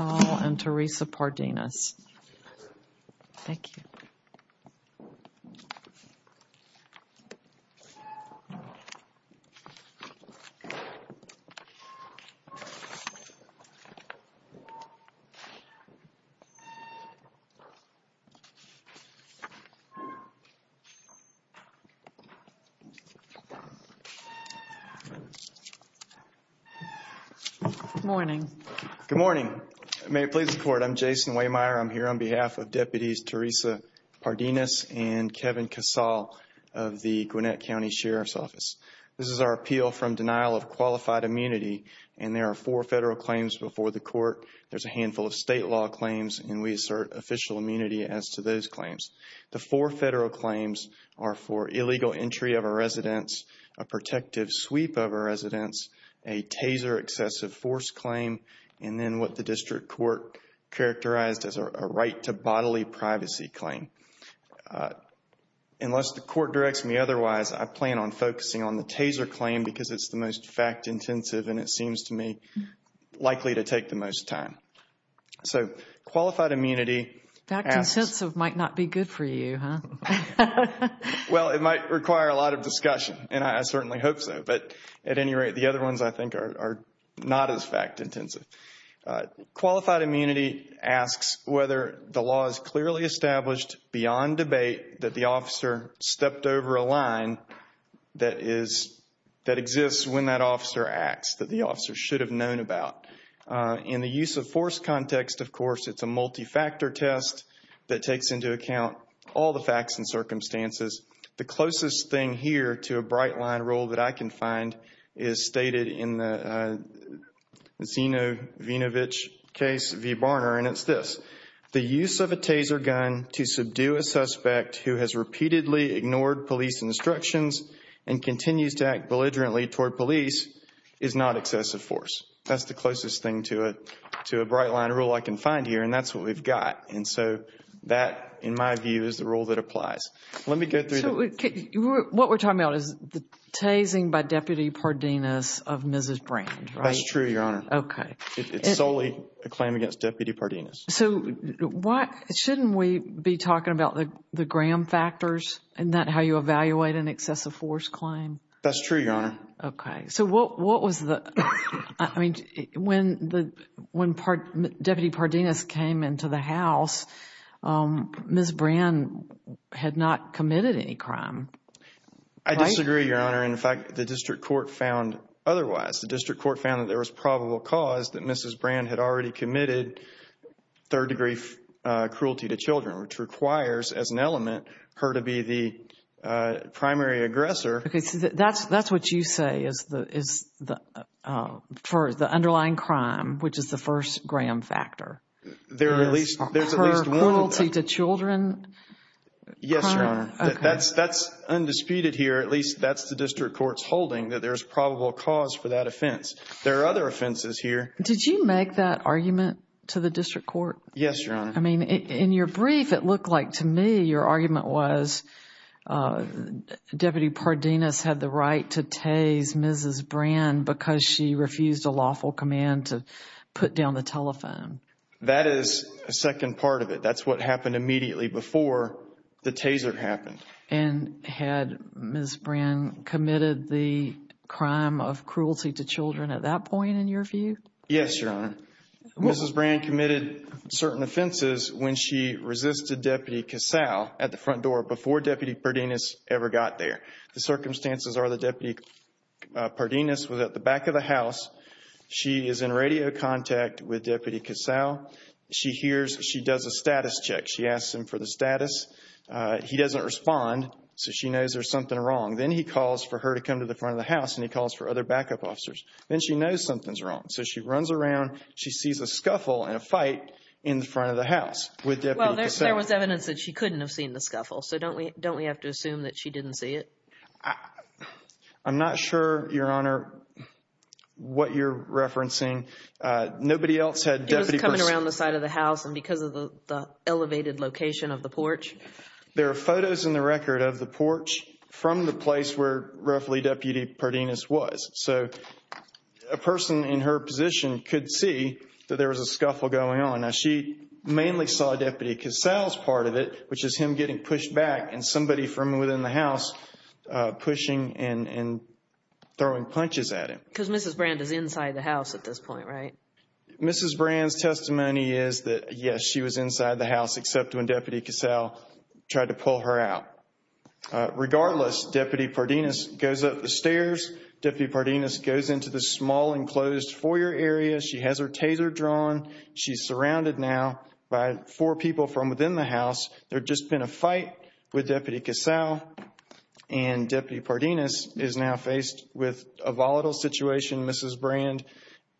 and Teresa Pardenas. Good morning. Good morning. May it please the court, I'm Jason Waymire. I'm here on behalf of Deputies Teresa Pardenas and Kevin Casal of the Gwinnett County Sheriff's Office. This is our appeal from denial of qualified immunity and there are four federal claims before the court. There's a handful of state law claims and we assert official immunity as to those claims. The four federal claims are for illegal entry of a residence, a protective sweep of a residence, a taser excessive force claim, and then what the district court characterized as a right to bodily privacy claim. Unless the court directs me otherwise, I plan on focusing on the taser claim because it's the most fact-intensive and it seems to me likely to take the most time. So qualified immunity... Fact-intensive might not be good for you, huh? Well, it might require a lot of discussion and I certainly hope so. But at any rate, the other ones I think are not as fact-intensive. Qualified immunity asks whether the law is clearly established beyond debate that the officer stepped over a line that exists when that officer acts that the officer should have known about. In the use of force context, of course, it's a multi-factor test that takes into account all the facts and circumstances. The closest thing here to a bright line rule that I can find is stated in the Zinovinovich case v. Barner and it's this. The use of a taser gun to subdue a suspect who has repeatedly ignored police instructions and continues to act belligerently toward police is not excessive force. That's the closest thing to a bright line rule I can find here and that's what we've got. And so that, in my view, is the rule that applies. Let me go through the... So what we're talking about is the tasing by Deputy Pardenas of Mrs. Brand, right? That's true, Your Honor. Okay. It's solely a claim against Deputy Pardenas. So shouldn't we be talking about the gram factors and not how you evaluate an excessive force claim? That's true, Your Honor. Okay. So what was the... I mean, when Deputy Pardenas came into the house, Mrs. Brand had not committed any crime, right? I disagree, Your Honor. In fact, the district court found otherwise. The district court found that there was probable cause that Mrs. Brand had already committed third-degree cruelty to children, which requires, as an element, her to be the primary aggressor. Okay. So that's what you say is for the underlying crime, which is the first gram factor. There's at least one... Her cruelty to children crime? Yes, Your Honor. Okay. That's undisputed here. At least that's the district court's holding that there's probable cause for that offense. There are other offenses here. Did you make that argument to the district court? Yes, Your Honor. I mean, in your brief, it looked like to me your argument was Deputy Pardenas had the right to tase Mrs. Brand because she refused a lawful command to put down the telephone. That is a second part of it. That's what happened immediately before the taser happened. And had Mrs. Brand committed the crime of cruelty to children at that point in your view? Yes, Your Honor. Mrs. Brand committed certain offenses when she resisted Deputy Casale at the front door before Deputy Pardenas ever got there. The circumstances are that Deputy Pardenas was at the back of the house. She is in radio contact with Deputy Casale. She hears she does a status check. She asks him for the status. He doesn't respond, so she knows there's something wrong. Then he calls for her to come to the front of the house, and he calls for other backup officers. Then she knows something's wrong. So she runs around. She sees a scuffle and a fight in front of the house with Deputy Casale. Well, there was evidence that she couldn't have seen the scuffle, so don't we have to assume that she didn't see it? I'm not sure, Your Honor, what you're referencing. Nobody else had Deputy Pardenas. It was coming around the side of the house and because of the elevated location of the porch. There are photos in the record of the porch from the place where roughly Deputy Pardenas was. So a person in her position could see that there was a scuffle going on. Now, she mainly saw Deputy Casale's part of it, which is him getting pushed back and somebody from within the house pushing and throwing punches at him. Because Mrs. Brand is inside the house at this point, right? Mrs. Brand's testimony is that, yes, she was inside the house, except when Deputy Casale tried to pull her out. Regardless, Deputy Pardenas goes up the stairs. Deputy Pardenas goes into the small enclosed foyer area. She has her taser drawn. She's surrounded now by four people from within the house. There had just been a fight with Deputy Casale, and Deputy Pardenas is now faced with a volatile situation. Mrs. Brand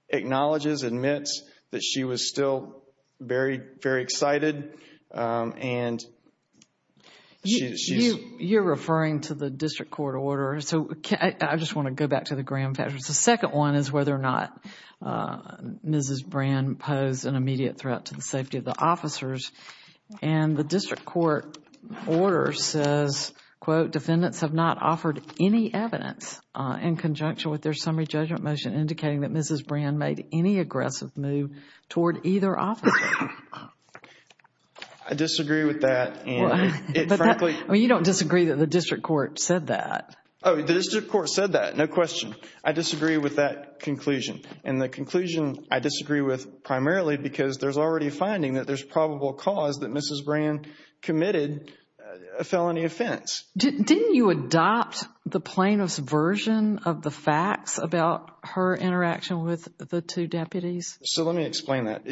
acknowledges, admits that she was still very, very excited. And she's... You're referring to the district court order. So I just want to go back to the Graham factors. The second one is whether or not Mrs. Brand posed an immediate threat to the safety of the officers. And the district court order says, quote, defendants have not offered any evidence in conjunction with their summary judgment motion indicating that Mrs. Brand made any aggressive move toward either officer. I disagree with that. Frankly... You don't disagree that the district court said that. Oh, the district court said that. No question. I disagree with that conclusion. And the conclusion I disagree with primarily because there's already a finding that there's probable cause that Mrs. Brand committed a felony offense. Didn't you adopt the plaintiff's version of the facts about her interaction with the two deputies? So let me explain that.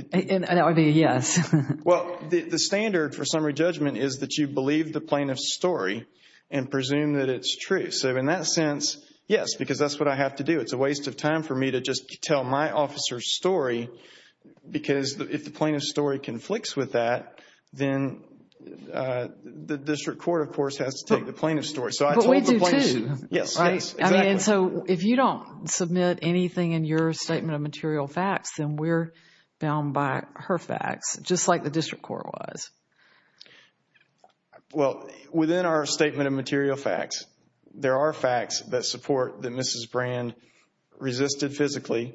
Yes. Well, the standard for summary judgment is that you believe the plaintiff's story and presume that it's true. So in that sense, yes, because that's what I have to do. It's a waste of time for me to just tell my officer's story because if the plaintiff's story conflicts with that, then the district court, of course, has to take the plaintiff's story. But we do, too. Yes, exactly. So if you don't submit anything in your statement of material facts, then we're bound by her facts, just like the district court was. Well, within our statement of material facts, there are facts that support that Mrs. Brand resisted physically,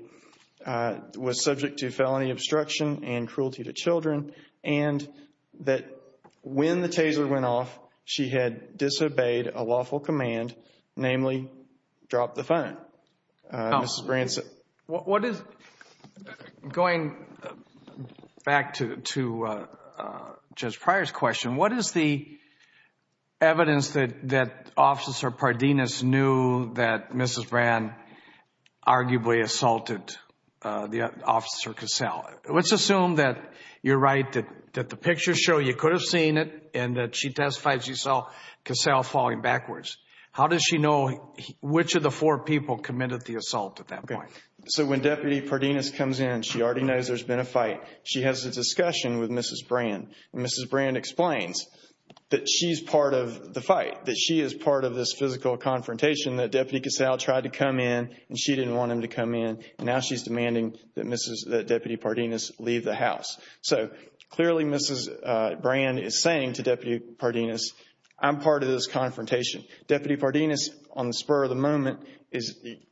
was subject to felony obstruction and cruelty to children, and that when the taser went off, she had disobeyed a lawful command, namely drop the phone. Going back to Judge Pryor's question, what is the evidence that Officer Pardinis knew that Mrs. Brand arguably assaulted Officer Cassell? Let's assume that you're right, that the pictures show you could have seen it and that she testified she saw Cassell falling backwards. How does she know which of the four people committed the assault at that point? So when Deputy Pardinis comes in, she already knows there's been a fight. She has a discussion with Mrs. Brand, and Mrs. Brand explains that she's part of the fight, that she is part of this physical confrontation that Deputy Cassell tried to come in, and she didn't want him to come in, and now she's demanding that Deputy Pardinis leave the house. So clearly Mrs. Brand is saying to Deputy Pardinis, I'm part of this confrontation. Deputy Pardinis, on the spur of the moment,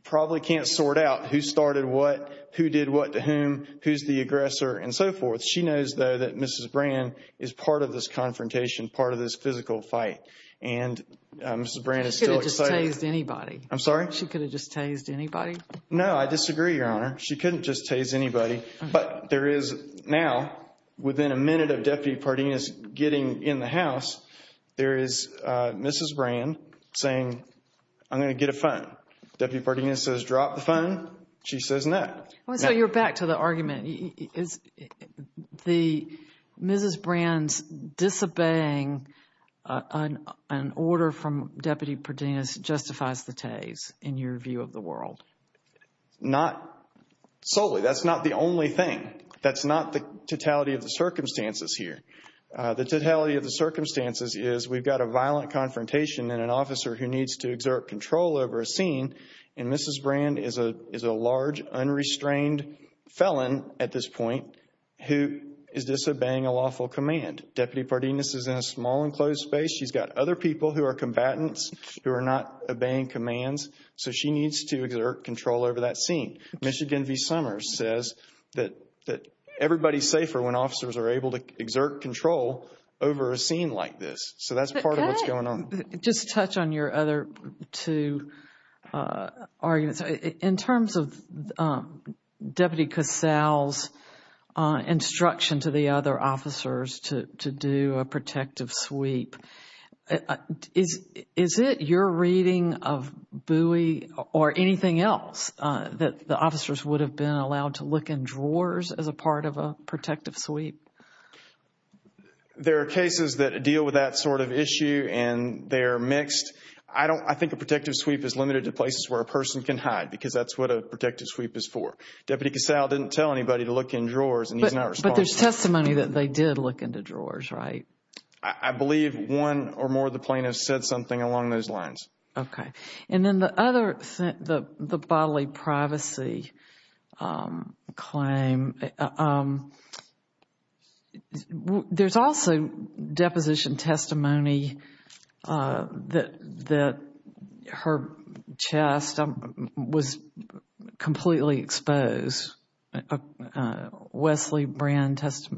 probably can't sort out who started what, who did what to whom, who's the aggressor, and so forth. She knows, though, that Mrs. Brand is part of this confrontation, part of this physical fight, and Mrs. Brand is still excited. She could have just tased anybody. I'm sorry? She could have just tased anybody. No, I disagree, Your Honor. She couldn't just tase anybody, but there is now, within a minute of Deputy Pardinis getting in the house, there is Mrs. Brand saying, I'm going to get a phone. Deputy Pardinis says, drop the phone. She says, no. So you're back to the argument. Is Mrs. Brand's disobeying an order from Deputy Pardinis justifies the tase in your view of the world? Not solely. That's not the only thing. That's not the totality of the circumstances here. The totality of the circumstances is we've got a violent confrontation and an officer who needs to exert control over a scene, and Mrs. Brand is a large, unrestrained felon at this point who is disobeying a lawful command. Deputy Pardinis is in a small, enclosed space. She's got other people who are combatants who are not obeying commands, so she needs to exert control over that scene. Michigan v. Summers says that everybody's safer when officers are able to exert control over a scene like this. So that's part of what's going on. Just to touch on your other two arguments. In terms of Deputy Casale's instruction to the other officers to do a protective sweep, is it your reading of Bowie or anything else that the officers would have been allowed to look in drawers as a part of a protective sweep? There are cases that deal with that sort of issue, and they're mixed. I think a protective sweep is limited to places where a person can hide because that's what a protective sweep is for. Deputy Casale didn't tell anybody to look in drawers, and he's not responsible. But there's testimony that they did look into drawers, right? I believe one or more of the plaintiffs said something along those lines. Okay. And then the other, the bodily privacy claim, there's also deposition testimony that her chest was completely exposed. Wesley Brand's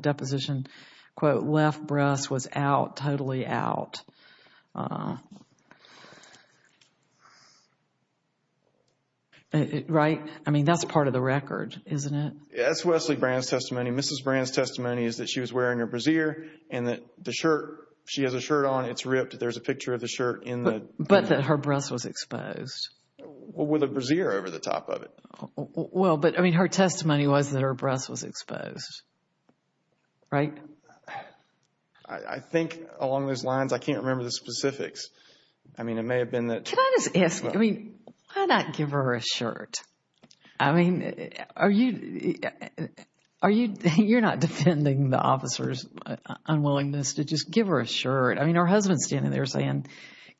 deposition, quote, left breast was out, totally out. Right? I mean, that's part of the record, isn't it? That's Wesley Brand's testimony. Mrs. Brand's testimony is that she was wearing her brassiere and that the shirt, she has a shirt on, it's ripped, there's a picture of the shirt in the But that her breast was exposed. With a brassiere over the top of it. Well, but I mean, her testimony was that her breast was exposed. Right? I think along those lines, I can't remember the specifics. I mean, it may have been that Can I just ask you, I mean, why not give her a shirt? I mean, are you, you're not defending the officer's unwillingness to just give her a shirt. I mean, her husband's standing there saying,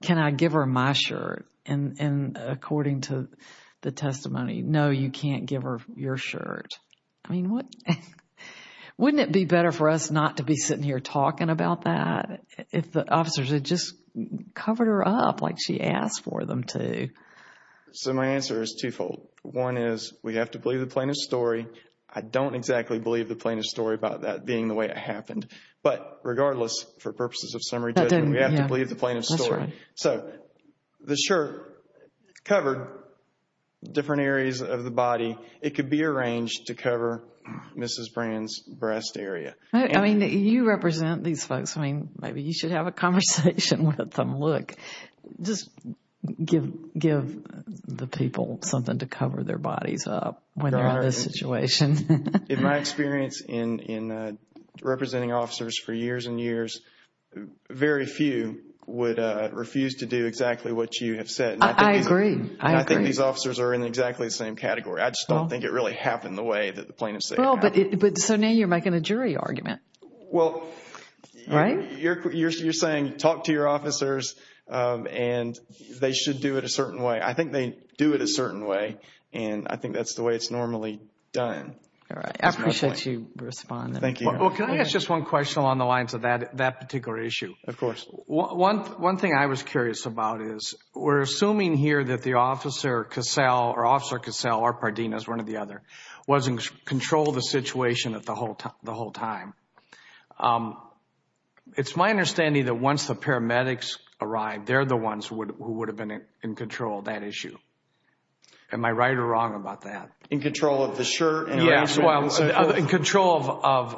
can I give her my shirt? And according to the testimony, no, you can't give her your shirt. I mean, wouldn't it be better for us not to be sitting here talking about that if the officers had just covered her up like she asked for them to? So my answer is twofold. One is we have to believe the plaintiff's story. I don't exactly believe the plaintiff's story about that being the way it happened. But regardless, for purposes of summary judgment, we have to believe the plaintiff's story. So the shirt covered different areas of the body. It could be arranged to cover Mrs. Brand's breast area. I mean, you represent these folks. I mean, maybe you should have a conversation with them. Look, just give the people something to cover their bodies up when they're in this situation. In my experience in representing officers for years and years, very few would refuse to do exactly what you have said. I agree. I agree. And I think these officers are in exactly the same category. I just don't think it really happened the way that the plaintiff said it happened. But so now you're making a jury argument. Well, you're saying talk to your officers and they should do it a certain way. I think they do it a certain way, and I think that's the way it's normally done. All right. I appreciate you responding. Thank you. Well, can I ask just one question along the lines of that particular issue? Of course. One thing I was curious about is we're assuming here that the Officer Cassell or Officer Pardena is one or the other, wasn't in control of the situation the whole time. It's my understanding that once the paramedics arrive, they're the ones who would have been in control of that issue. Am I right or wrong about that? In control of the shirt? Yes, well, in control of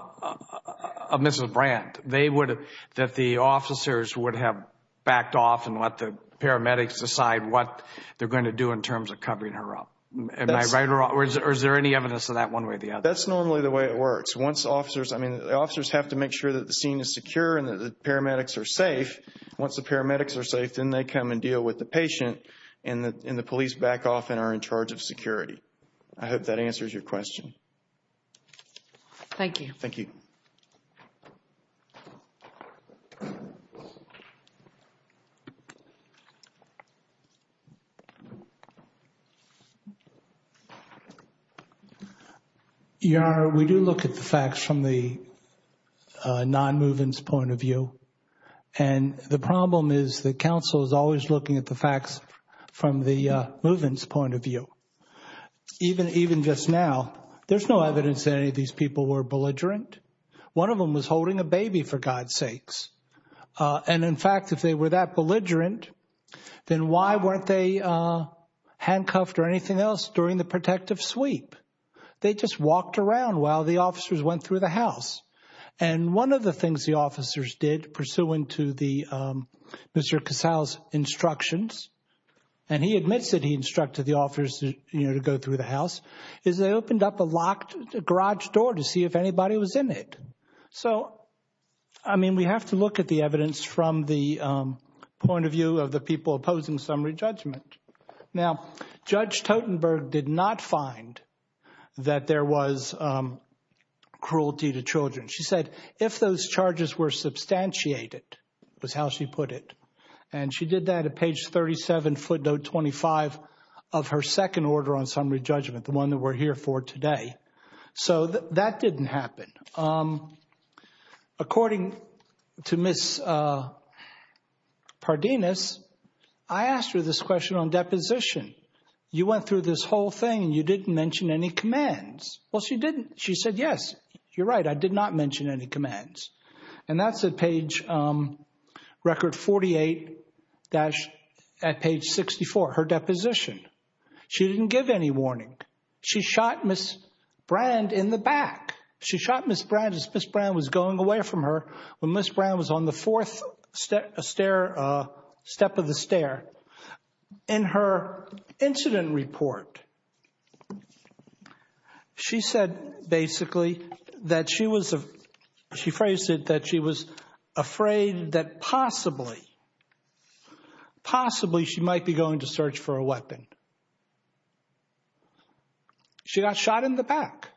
Mrs. Brandt. That the officers would have backed off and let the paramedics decide what they're going to do in terms of covering her up. Am I right or wrong, or is there any evidence of that one way or the other? That's normally the way it works. The officers have to make sure that the scene is secure and that the paramedics are safe. Once the paramedics are safe, then they come and deal with the patient, and the police back off and are in charge of security. I hope that answers your question. Thank you. Thank you. Your Honor, we do look at the facts from the non-movement's point of view, and the problem is that counsel is always looking at the facts from the movement's point of view. Even just now, there's no evidence that any of these people were belligerent. One of them was holding a baby, for God's sakes. And, in fact, if they were that belligerent, then why weren't they handcuffed or anything else during the protective sweep? They just walked around while the officers went through the house. And one of the things the officers did, pursuant to Mr. Casale's instructions, and he admits that he instructed the officers to go through the house, is they opened up a locked garage door to see if anybody was in it. So, I mean, we have to look at the evidence from the point of view of the people opposing summary judgment. Now, Judge Totenberg did not find that there was cruelty to children. She said, if those charges were substantiated, was how she put it, and she did that at page 37, footnote 25 of her second order on summary judgment, the one that we're here for today. So that didn't happen. According to Ms. Pardinis, I asked her this question on deposition. You went through this whole thing and you didn't mention any commands. Well, she didn't. She said, yes, you're right, I did not mention any commands. And that's at page record 48 at page 64, her deposition. She didn't give any warning. She shot Ms. Brand in the back. She shot Ms. Brand as Ms. Brand was going away from her, when Ms. Brand was on the fourth step of the stair. In her incident report, she said basically that she was, she phrased it that she was afraid that possibly, possibly she might be going to search for a weapon. She got shot in the back.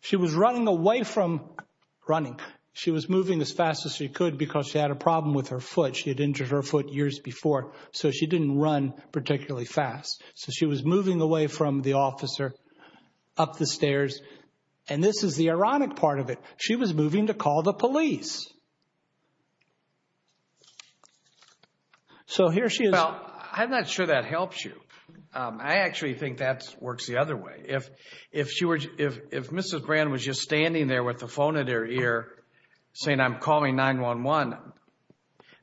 She was running away from running. She was moving as fast as she could because she had a problem with her foot. She had injured her foot years before. So she didn't run particularly fast. So she was moving away from the officer up the stairs. And this is the ironic part of it. She was moving to call the police. So here she is. Well, I'm not sure that helps you. I actually think that works the other way. If Ms. Brand was just standing there with the phone in her ear saying, I'm calling 911,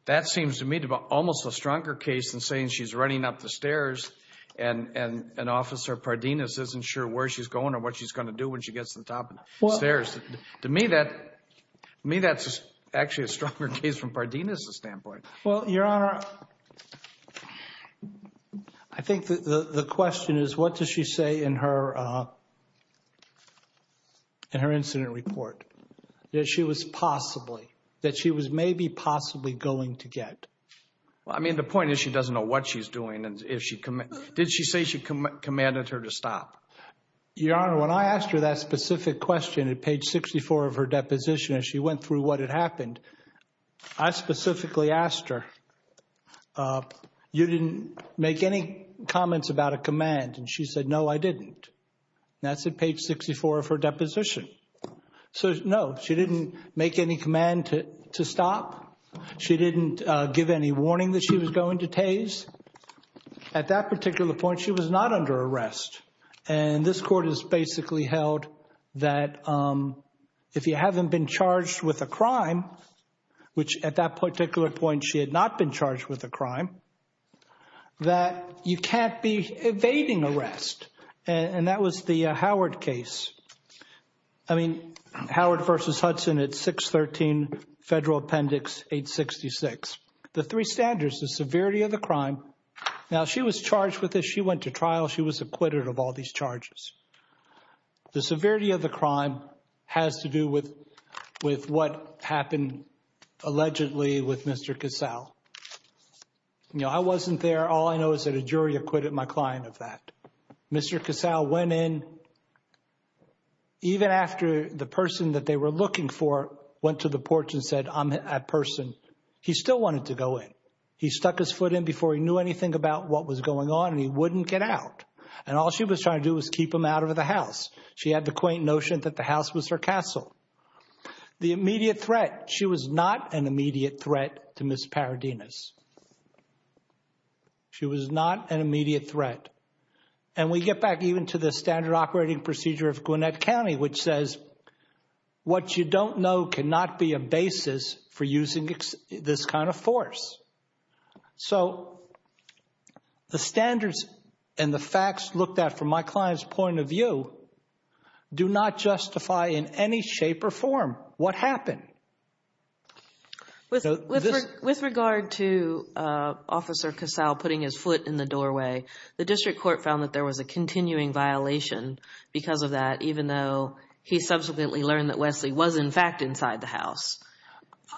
that seems to me to be almost a stronger case than saying she's running up the stairs and an officer, Pardinis, isn't sure where she's going or what she's going to do when she gets to the top of the stairs. To me, that's actually a stronger case from Pardinis' standpoint. Well, Your Honor, I think the question is what does she say in her incident report that she was possibly, that she was maybe possibly going to get? I mean, the point is she doesn't know what she's doing. Did she say she commanded her to stop? Your Honor, when I asked her that specific question at page 64 of her deposition as she went through what had happened, I specifically asked her, you didn't make any comments about a command? And she said, no, I didn't. That's at page 64 of her deposition. So, no, she didn't make any command to stop. She didn't give any warning that she was going to Taze. At that particular point, she was not under arrest. And this court has basically held that if you haven't been charged with a crime, which at that particular point she had not been charged with a crime, that you can't be evading arrest. And that was the Howard case. I mean, Howard v. Hudson at 613 Federal Appendix 866. The three standards, the severity of the crime. Now, she was charged with this. She went to trial. She was acquitted of all these charges. The severity of the crime has to do with what happened allegedly with Mr. Casale. You know, I wasn't there. All I know is that a jury acquitted my client of that. Mr. Casale went in even after the person that they were looking for went to the porch and said, I'm a person. He still wanted to go in. He stuck his foot in before he knew anything about what was going on, and he wouldn't get out. And all she was trying to do was keep him out of the house. She had the quaint notion that the house was her castle. The immediate threat, she was not an immediate threat to Ms. Paradinas. She was not an immediate threat. And we get back even to the standard operating procedure of Gwinnett County, which says what you don't know cannot be a basis for using this kind of force. So the standards and the facts looked at from my client's point of view do not justify in any shape or form what happened. With regard to Officer Casale putting his foot in the doorway, the district court found that there was a continuing violation because of that, even though he subsequently learned that Wesley was in fact inside the house.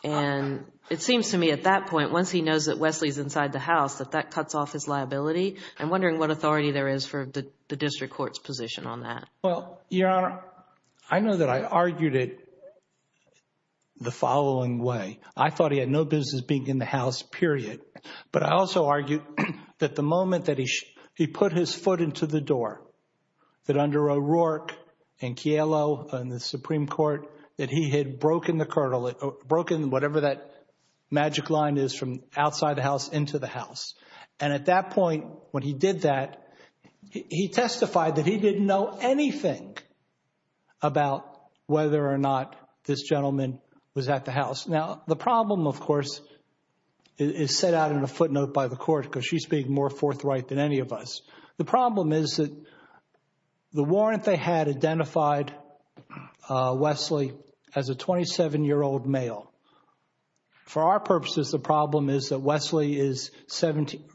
And it seems to me at that point, once he knows that Wesley is inside the house, that that cuts off his liability. I'm wondering what authority there is for the district court's position on that. Well, Your Honor, I know that I argued it the following way. I thought he had no business being in the house, period. But I also argued that the moment that he put his foot into the door, that under O'Rourke and Chialo and the Supreme Court, that he had broken the curtain, broken whatever that magic line is from outside the house into the house. And at that point when he did that, he testified that he didn't know anything about whether or not this gentleman was at the house. Now, the problem, of course, is set out in a footnote by the court because she's being more forthright than any of us. The problem is that the warrant they had identified Wesley as a 27-year-old male. For our purposes, the problem is that Wesley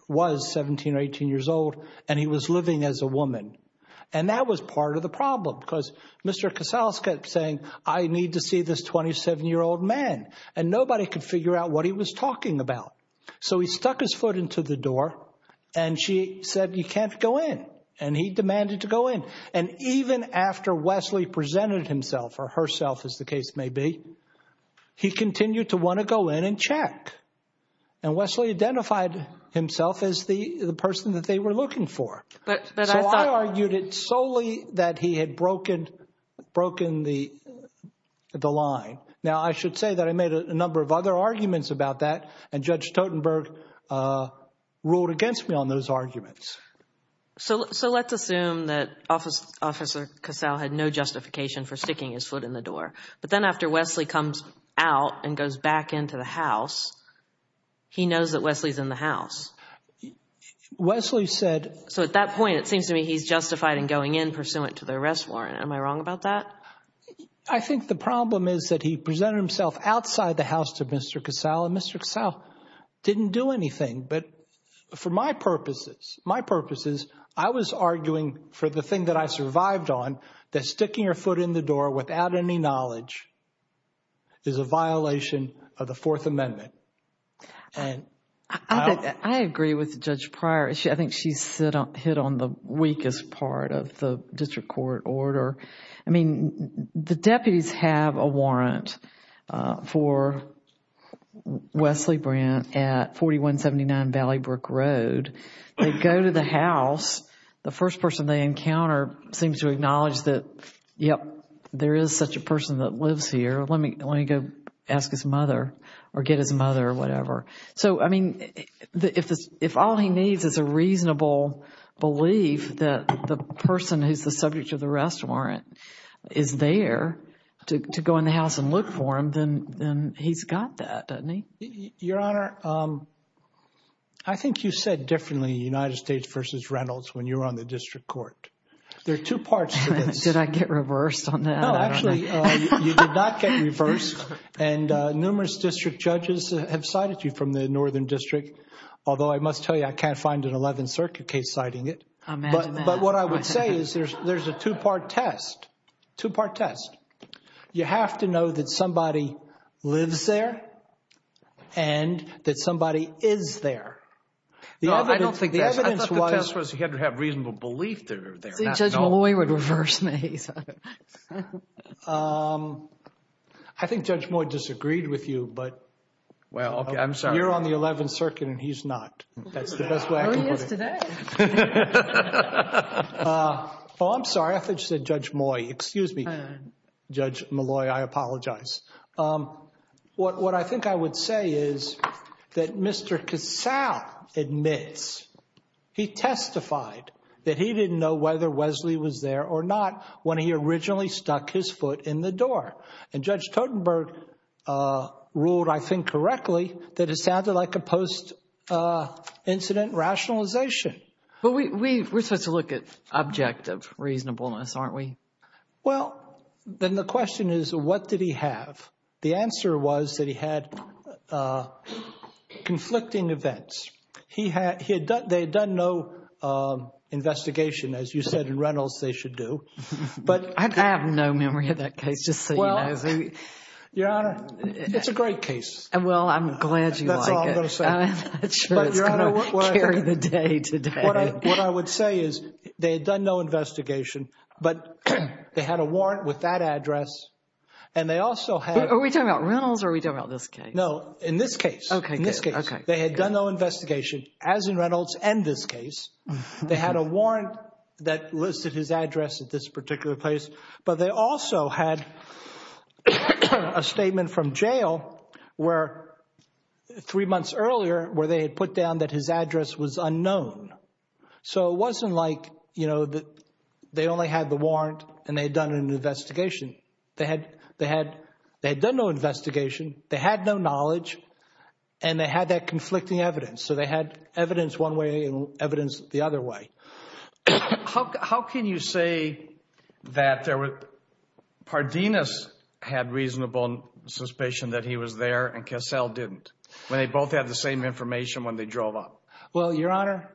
was 17 or 18 years old and he was living as a woman. And that was part of the problem because Mr. Casals kept saying, I need to see this 27-year-old man. And nobody could figure out what he was talking about. So he stuck his foot into the door and she said, you can't go in. And he demanded to go in. And even after Wesley presented himself or herself, as the case may be, he continued to want to go in and check. And Wesley identified himself as the person that they were looking for. So I argued it solely that he had broken the line. Now, I should say that I made a number of other arguments about that, and Judge Totenberg ruled against me on those arguments. So let's assume that Officer Casals had no justification for sticking his foot in the door. But then after Wesley comes out and goes back into the house, he knows that Wesley is in the house. Wesley said— So at that point, it seems to me he's justified in going in pursuant to the arrest warrant. Am I wrong about that? I think the problem is that he presented himself outside the house to Mr. Casals, and Mr. Casals didn't do anything. But for my purposes, my purposes, I was arguing for the thing that I survived on, that sticking your foot in the door without any knowledge is a violation of the Fourth Amendment. I agree with Judge Pryor. I think she's hit on the weakest part of the district court order. I mean, the deputies have a warrant for Wesley Brandt at 4179 Valley Brook Road. They go to the house. The first person they encounter seems to acknowledge that, yep, there is such a person that lives here. Let me go ask his mother or get his mother or whatever. So, I mean, if all he needs is a reasonable belief that the person who's the subject of the arrest warrant is there to go in the house and look for him, then he's got that, doesn't he? Your Honor, I think you said differently, United States v. Reynolds, when you were on the district court. There are two parts to this. Did I get reversed on that? And numerous district judges have cited you from the northern district, although I must tell you I can't find an 11th Circuit case citing it. But what I would say is there's a two-part test, two-part test. You have to know that somebody lives there and that somebody is there. No, I don't think that. The evidence was... I thought the test was you had to have reasonable belief they're there, not knowledge. See, Judge Malloy would reverse me. I think Judge Moy disagreed with you, but... Well, I'm sorry. You're on the 11th Circuit and he's not. That's the best way I can put it. Oh, he is today. Oh, I'm sorry. I thought you said Judge Moy. Excuse me, Judge Malloy. I apologize. What I think I would say is that Mr. Casale admits he testified that he didn't know whether Wesley was there or not when he originally stuck his foot in the door. And Judge Totenberg ruled, I think correctly, that it sounded like a post-incident rationalization. But we're supposed to look at objective reasonableness, aren't we? Well, then the question is what did he have? The answer was that he had conflicting events. They had done no investigation, as you said in Reynolds they should do. I have no memory of that case, just so you know. Your Honor, it's a great case. Well, I'm glad you like it. That's all I'm going to say. I'm not sure it's going to carry the day today. What I would say is they had done no investigation, but they had a warrant with that address. And they also had— Are we talking about Reynolds or are we talking about this case? No, in this case. In this case. They had done no investigation, as in Reynolds and this case. They had a warrant that listed his address at this particular place. But they also had a statement from jail three months earlier where they had put down that his address was unknown. So it wasn't like they only had the warrant and they had done an investigation. They had done no investigation, they had no knowledge, and they had that conflicting evidence. So they had evidence one way and evidence the other way. How can you say that Pardinis had reasonable suspicion that he was there and Cassell didn't? When they both had the same information when they drove up? Well, Your Honor,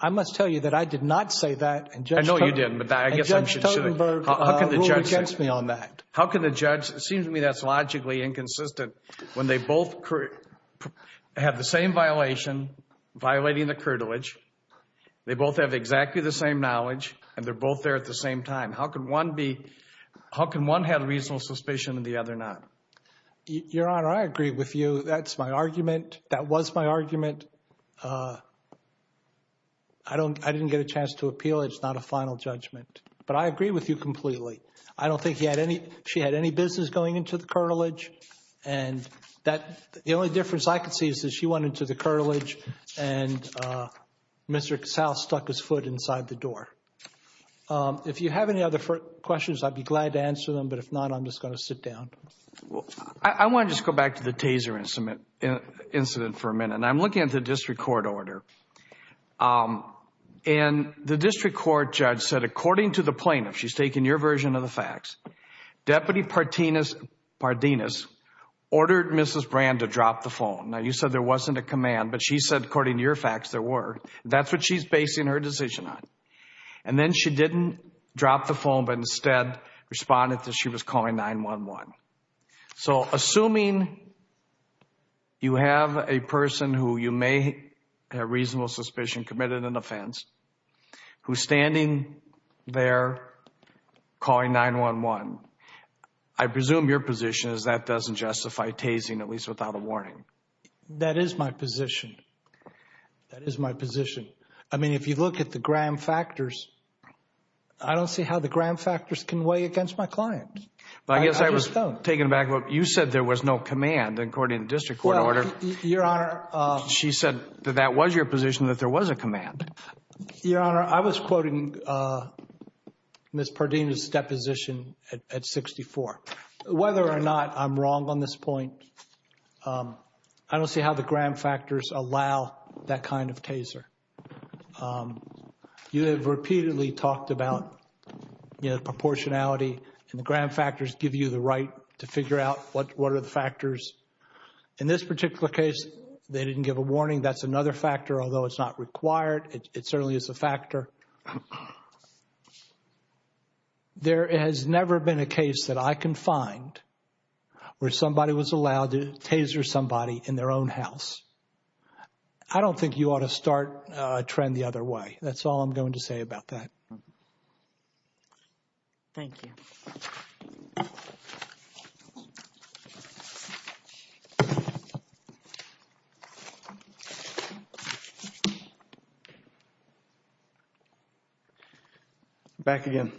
I must tell you that I did not say that. I know you didn't, but I guess I'm just— And Judge Totenberg ruled against me on that. How can the judge—it seems to me that's logically inconsistent. When they both have the same violation, violating the curtilage, they both have exactly the same knowledge, and they're both there at the same time. How can one be—how can one have reasonable suspicion and the other not? Your Honor, I agree with you. That's my argument. That was my argument. I didn't get a chance to appeal. It's not a final judgment. But I agree with you completely. I don't think he had any—she had any business going into the curtilage. And that—the only difference I could see is that she went into the curtilage and Mr. Cassell stuck his foot inside the door. If you have any other questions, I'd be glad to answer them. But if not, I'm just going to sit down. I want to just go back to the Taser incident for a minute. And I'm looking at the district court order. And the district court judge said, according to the plaintiff—she's taking your version of the facts— Deputy Pardenas ordered Mrs. Brand to drop the phone. Now, you said there wasn't a command, but she said, according to your facts, there were. That's what she's basing her decision on. And then she didn't drop the phone but instead responded that she was calling 911. So, assuming you have a person who you may have reasonable suspicion committed an offense, who's standing there calling 911, I presume your position is that doesn't justify Tasing, at least without a warning. That is my position. That is my position. I mean, if you look at the gram factors, I don't see how the gram factors can weigh against my client. I just don't. I guess I was taken aback. You said there was no command, according to the district court order. Your Honor— She said that that was your position, that there was a command. Your Honor, I was quoting Ms. Pardenas' deposition at 64. Whether or not I'm wrong on this point, I don't see how the gram factors allow that kind of Taser. You have repeatedly talked about proportionality and the gram factors give you the right to figure out what are the factors. In this particular case, they didn't give a warning. That's another factor, although it's not required. It certainly is a factor. There has never been a case that I can find where somebody was allowed to Taser somebody in their own house. I don't think you ought to start a trend the other way. That's all I'm going to say about that. Thank you. Back again.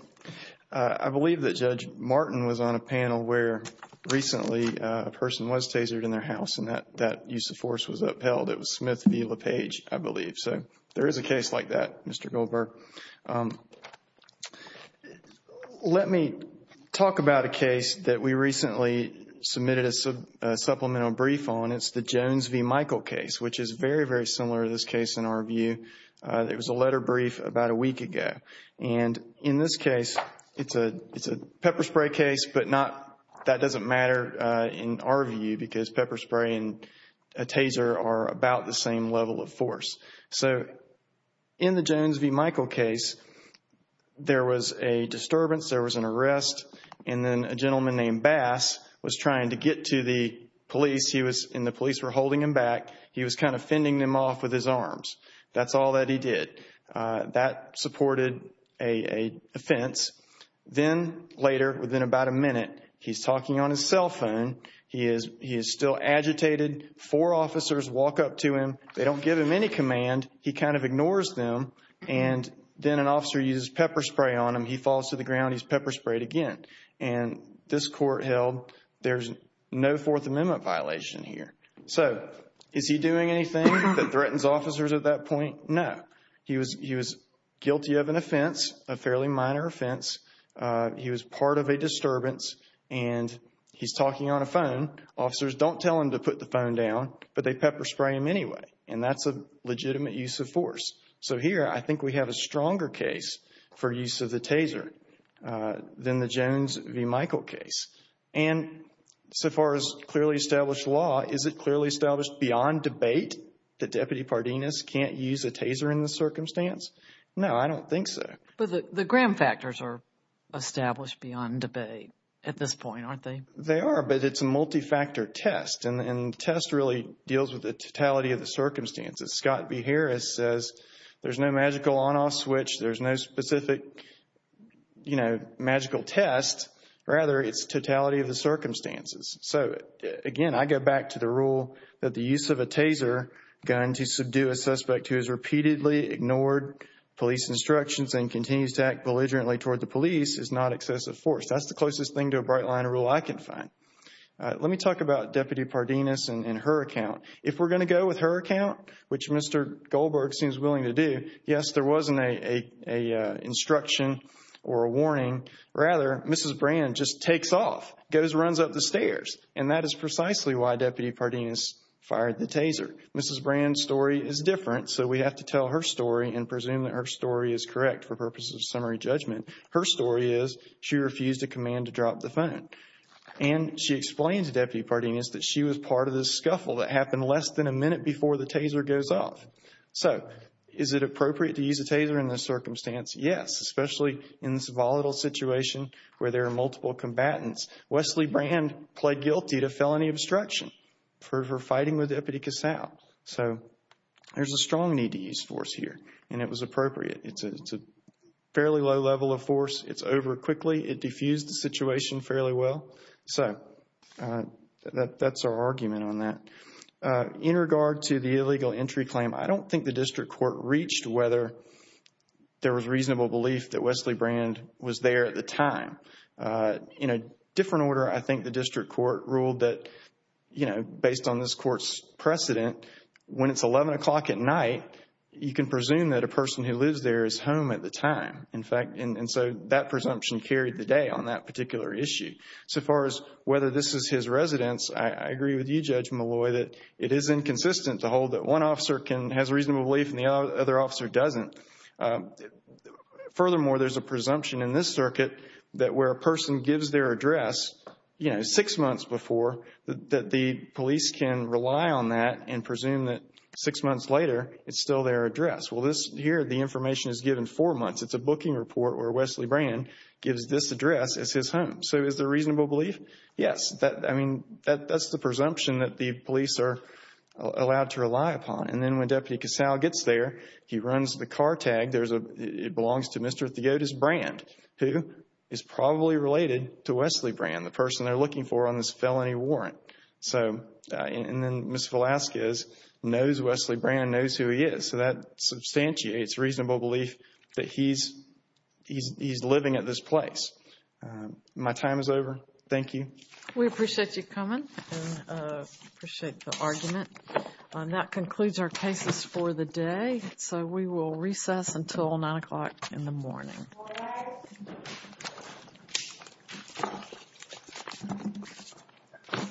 I believe that Judge Martin was on a panel where recently a person was Tasered in their house and that use of force was upheld. It was Smith v. LePage, I believe. There is a case like that, Mr. Goldberg. Let me talk about a case that we recently submitted a supplemental brief on. It's the Jones v. Michael case, which is very, very similar to this case in our view. It was a letter brief about a week ago. In this case, it's a pepper spray case, but that doesn't matter in our view because pepper spray and a Taser are about the same level of force. In the Jones v. Michael case, there was a disturbance. There was an arrest. Then a gentleman named Bass was trying to get to the police, and the police were holding him back. He was kind of fending them off with his arms. That's all that he did. That supported an offense. Then later, within about a minute, he's talking on his cell phone. He is still agitated. Four officers walk up to him. They don't give him any command. He kind of ignores them. Then an officer uses pepper spray on him. He falls to the ground. He's pepper sprayed again. This court held there's no Fourth Amendment violation here. Is he doing anything that threatens officers at that point? No. He was guilty of an offense, a fairly minor offense. He was part of a disturbance, and he's talking on a phone. Officers don't tell him to put the phone down, but they pepper spray him anyway. That's a legitimate use of force. Here, I think we have a stronger case for use of the Taser than the Jones v. Michael case. So far as clearly established law, is it clearly established beyond debate that Deputy Pardenas can't use a Taser in this circumstance? No, I don't think so. But the gram factors are established beyond debate at this point, aren't they? They are, but it's a multi-factor test, and the test really deals with the totality of the circumstances. Scott B. Harris says there's no magical on-off switch. There's no specific, you know, magical test. Rather, it's totality of the circumstances. So, again, I go back to the rule that the use of a Taser gun to subdue a suspect who has repeatedly ignored police instructions and continues to act belligerently toward the police is not excessive force. That's the closest thing to a Bright Line rule I can find. Let me talk about Deputy Pardenas and her account. If we're going to go with her account, which Mr. Goldberg seems willing to do, yes, there wasn't an instruction or a warning. Rather, Mrs. Brand just takes off, goes and runs up the stairs, and that is precisely why Deputy Pardenas fired the Taser. Mrs. Brand's story is different, so we have to tell her story and presume that her story is correct for purposes of summary judgment. Her story is she refused a command to drop the phone, and she explains to Deputy Pardenas that she was part of this scuffle that happened less than a minute before the Taser goes off. So, is it appropriate to use a Taser in this circumstance? Yes, especially in this volatile situation where there are multiple combatants. Wesley Brand pled guilty to felony obstruction for fighting with Deputy Casal. So, there's a strong need to use force here, and it was appropriate. It's a fairly low level of force. It's over quickly. It diffused the situation fairly well. So, that's our argument on that. In regard to the illegal entry claim, I don't think the district court reached whether there was reasonable belief that Wesley Brand was there at the time. In a different order, I think the district court ruled that, you know, based on this court's precedent, when it's 11 o'clock at night, you can presume that a person who lives there is home at the time. In fact, and so that presumption carried the day on that particular issue. So far as whether this is his residence, I agree with you, Judge Malloy, that it is inconsistent to hold that one officer has reasonable belief and the other officer doesn't. Furthermore, there's a presumption in this circuit that where a person gives their address, you know, six months before, that the police can rely on that and presume that six months later it's still their address. Well, here the information is given four months. It's a booking report where Wesley Brand gives this address as his home. So, is there reasonable belief? Yes. I mean, that's the presumption that the police are allowed to rely upon. And then when Deputy Casale gets there, he runs the car tag. It belongs to Mr. Theodos Brand, who is probably related to Wesley Brand, the person they're looking for on this felony warrant. And then Ms. Velazquez knows Wesley Brand, knows who he is. So that substantiates reasonable belief that he's living at this place. My time is over. Thank you. We appreciate you coming and appreciate the argument. And that concludes our cases for the day. So we will recess until 9 o'clock in the morning.